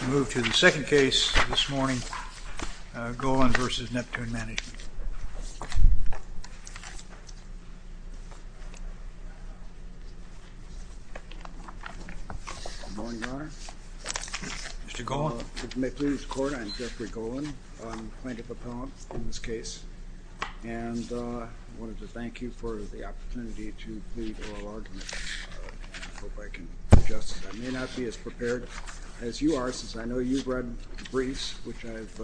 We move to the second case this morning, Golin v. Neptune Management. Good morning, Your Honor. Mr. Golin. If you may please record, I'm Jeffrey Golin. I'm a plaintiff appellant in this case. And I wanted to thank you for the opportunity to plead oral argument. I hope I can adjust. I may not be as prepared as you are, since I know you've read the briefs, which I've...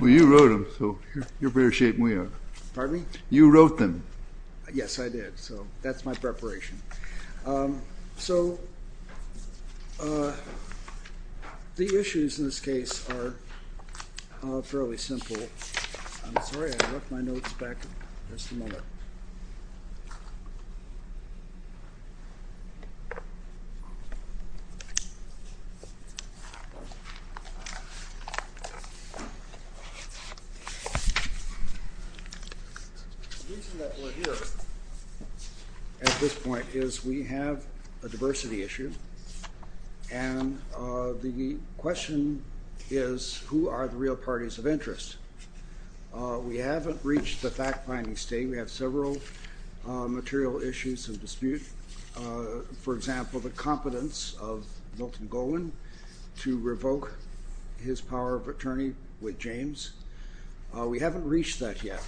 Well, you wrote them, so you're in better shape than we are. Pardon me? You wrote them. Yes, I did. So that's my preparation. So the issues in this case are fairly simple. I'm sorry, I left my notes back. Just a moment. The reason that we're here at this point is we have a diversity issue. And the question is, who are the real parties of interest? We haven't reached the fact-finding state. We have several material issues of dispute. For example, the competence of Milton Golin to revoke his power of attorney with James. We haven't reached that yet.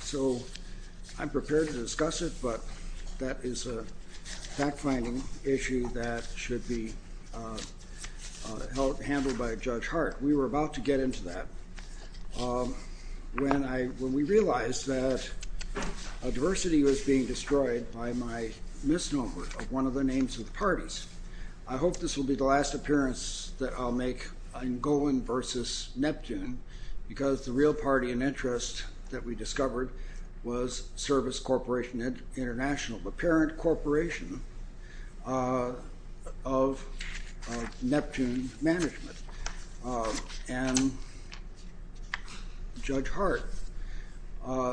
So I'm prepared to discuss it, but that is a fact-finding issue that should be handled by Judge Hart. We were about to get into that when we realized that diversity was being destroyed by my misnomer of one of the names of the parties. I hope this will be the last appearance that I'll make on Golin versus Neptune, because the real party of interest that we discovered was Service Corporation International, the parent corporation of Neptune Management. And Judge Hart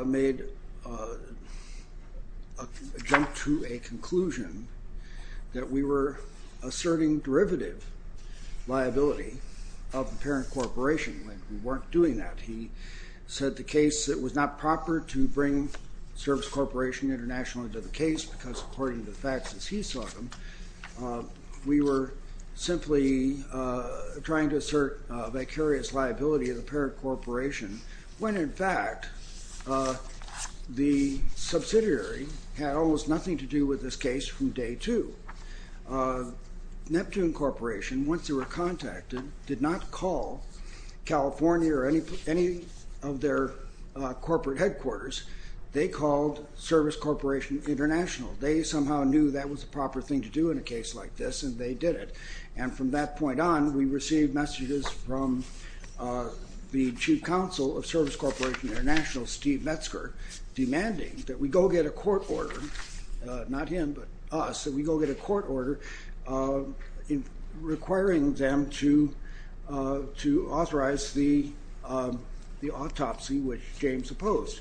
made a jump to a conclusion that we were asserting derivative liability of the parent corporation. We weren't doing that. He said the case, it was not proper to bring Service Corporation International into the case because according to the facts as he saw them, we were simply trying to assert vicarious liability of the parent corporation, when in fact the subsidiary had almost nothing to do with this case from day two. Neptune Corporation, once they were contacted, did not call California or any of their corporate headquarters. They called Service Corporation International. They somehow knew that was the proper thing to do in a case like this, and they did it. And from that point on, we received messages from the chief counsel of Service Corporation International, Steve Metzger, demanding that we go get a court order, not him, but us, that we go get a court order requiring them to authorize the autopsy, which James opposed.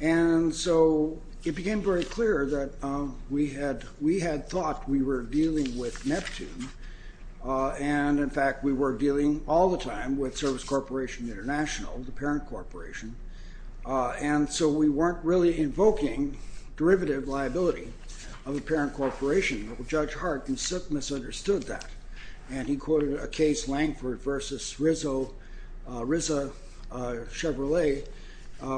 And so it became very clear that we had thought we were dealing with Neptune, and in fact we were dealing all the time with Service Corporation International, the parent corporation, and so we weren't really invoking derivative liability of the parent corporation. Judge Hart misunderstood that, and he quoted a case, Langford v. Rizzo Chevrolet,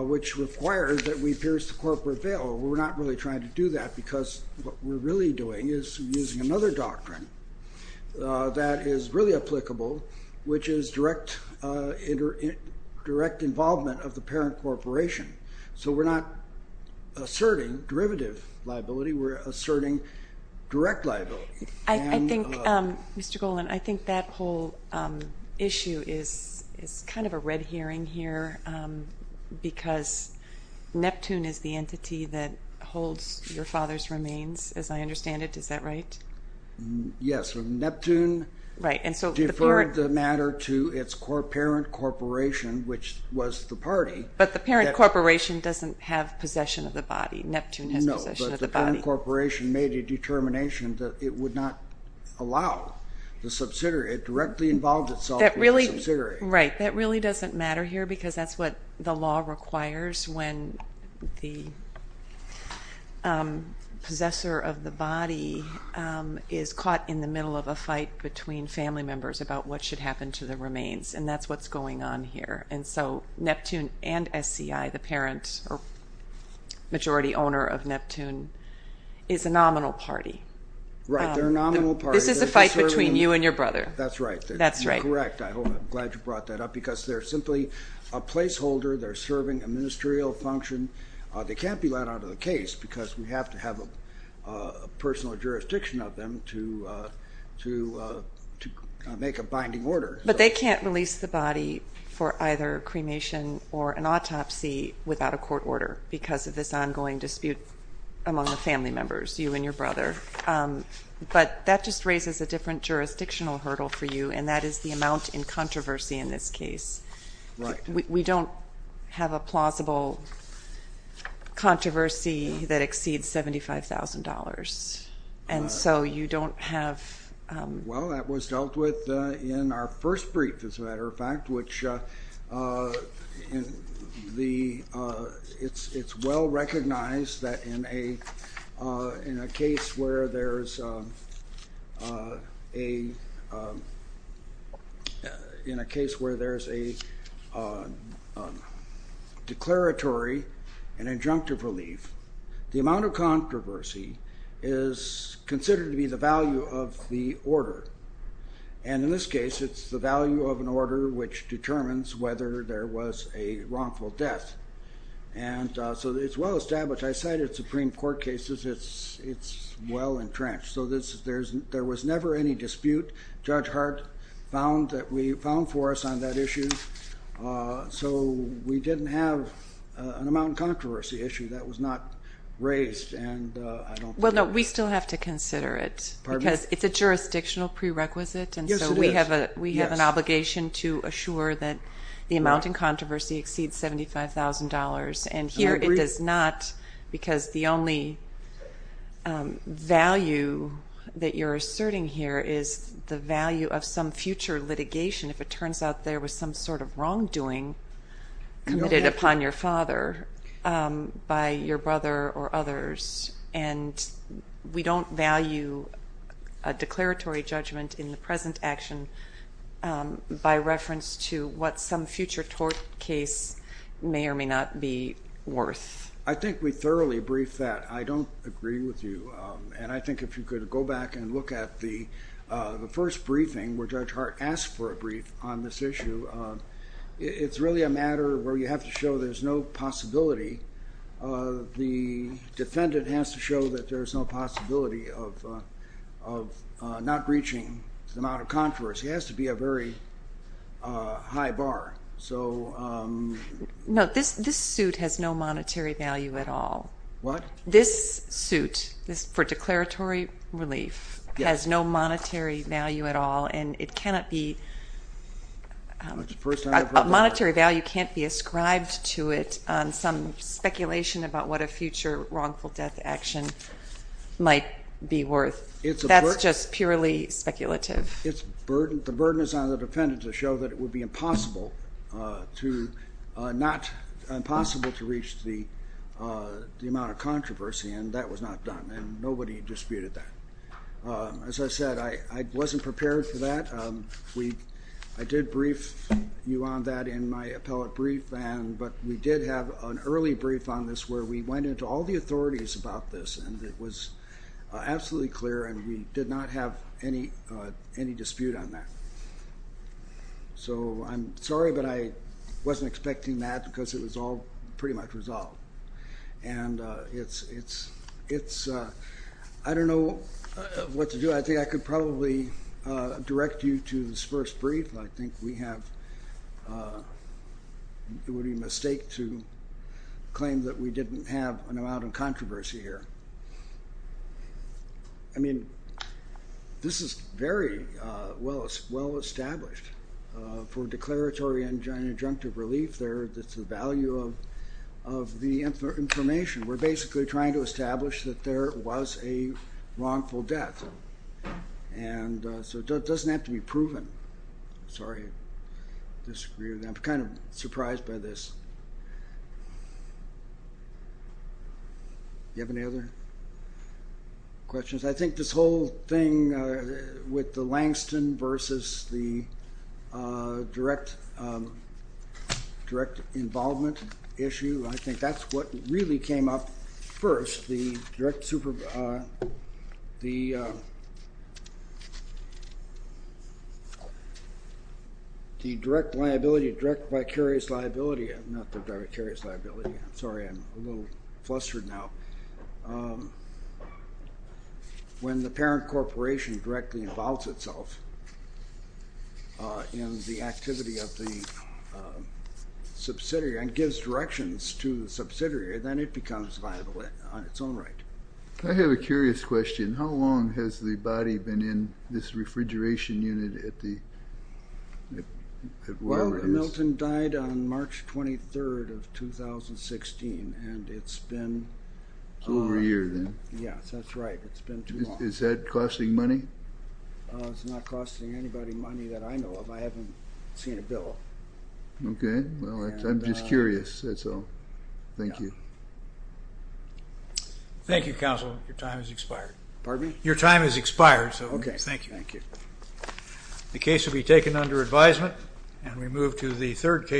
which requires that we pierce the corporate veil. We're not really trying to do that because what we're really doing is using another doctrine that is really applicable, which is direct involvement of the parent corporation. So we're not asserting derivative liability. We're asserting direct liability. I think, Mr. Golan, I think that whole issue is kind of a red herring here because Neptune is the entity that holds your father's remains, as I understand it. Is that right? Yes. Neptune deferred the matter to its parent corporation, which was the party. But the parent corporation doesn't have possession of the body. Neptune has possession of the body. No, but the parent corporation made a determination that it would not allow the subsidiary. It directly involved itself with the subsidiary. Right. That really doesn't matter here because that's what the law requires when the possessor of the body is caught in the middle of a fight between family members about what should happen to the remains, and that's what's going on here. And so Neptune and SCI, the parent or majority owner of Neptune, is a nominal party. Right. They're a nominal party. This is a fight between you and your brother. That's right. You're correct. I'm glad you brought that up because they're simply a placeholder. They're serving a ministerial function. They can't be let out of the case because we have to have a personal jurisdiction of them to make a binding order. But they can't release the body for either cremation or an autopsy without a court order because of this ongoing dispute among the family members, you and your brother. But that just raises a different jurisdictional hurdle for you, and that is the amount in controversy in this case. Right. We don't have a plausible controversy that exceeds $75,000. And so you don't have... Well, that was dealt with in our first brief, as a matter of fact, which it's well recognized that in a case where there's a declaratory and injunctive relief, the amount of controversy is considered to be the value of the order. And in this case, it's the value of an order which determines whether there was a wrongful death. And so it's well established. I cited Supreme Court cases. It's well entrenched. So there was never any dispute. Judge Hart found for us on that issue. So we didn't have an amount in controversy issue. That was not raised. Well, no, we still have to consider it because it's a jurisdictional prerequisite. And so we have an obligation to assure that the amount in controversy exceeds $75,000. And here it does not because the only value that you're asserting here is the value of some future litigation. If it turns out there was some sort of wrongdoing committed upon your father by your brother or others. And we don't value a declaratory judgment in the present action by reference to what some future tort case may or may not be worth. I think we thoroughly briefed that. I don't agree with you. And I think if you could go back and look at the first briefing where Judge Hart asked for a brief on this issue, it's really a matter where you have to show there's no possibility. The defendant has to show that there's no possibility of not reaching the amount of controversy. It has to be a very high bar. So... No, this suit has no monetary value at all. What? This suit for declaratory relief has no monetary value at all. And it cannot be... A monetary value can't be ascribed to it on some speculation about what a future wrongful death action might be worth. That's just purely speculative. The burden is on the defendant to show that it would be impossible to reach the amount of controversy. And that was not done. And nobody disputed that. As I said, I wasn't prepared for that. I did brief you on that in my appellate brief. But we did have an early brief on this where we went into all the authorities about this. And it was absolutely clear, and we did not have any dispute on that. So I'm sorry, but I wasn't expecting that because it was all pretty much resolved. And it's... I don't know what to do. I think I could probably direct you to this first brief. I think we have... It would be a mistake to claim that we didn't have an amount of controversy here. I mean, this is very well established for declaratory and injunctive relief. It's the value of the information. We're basically trying to establish that there was a wrongful death. And so it doesn't have to be proven. Sorry, I disagree with that. I'm kind of surprised by this. Do you have any other questions? I think this whole thing with the Langston versus the direct involvement issue, I think that's what really came up first. The direct liability, direct vicarious liability, not the direct vicarious liability. I'm sorry. I'm a little flustered now. When the parent corporation directly involves itself in the activity of the subsidiary and gives directions to the subsidiary, then it becomes liable on its own right. I have a curious question. How long has the body been in this refrigeration unit at the... Well, Milton died on March 23rd of 2016, and it's been... Over a year then. Yes, that's right. It's been too long. Is that costing money? It's not costing anybody money that I know of. I haven't seen a bill. Okay. I'm just curious. That's all. Thank you. Thank you, counsel. Your time has expired. Pardon me? Your time has expired. Okay. Thank you. Thank you. The case will be taken under advisement, and we move to the third case.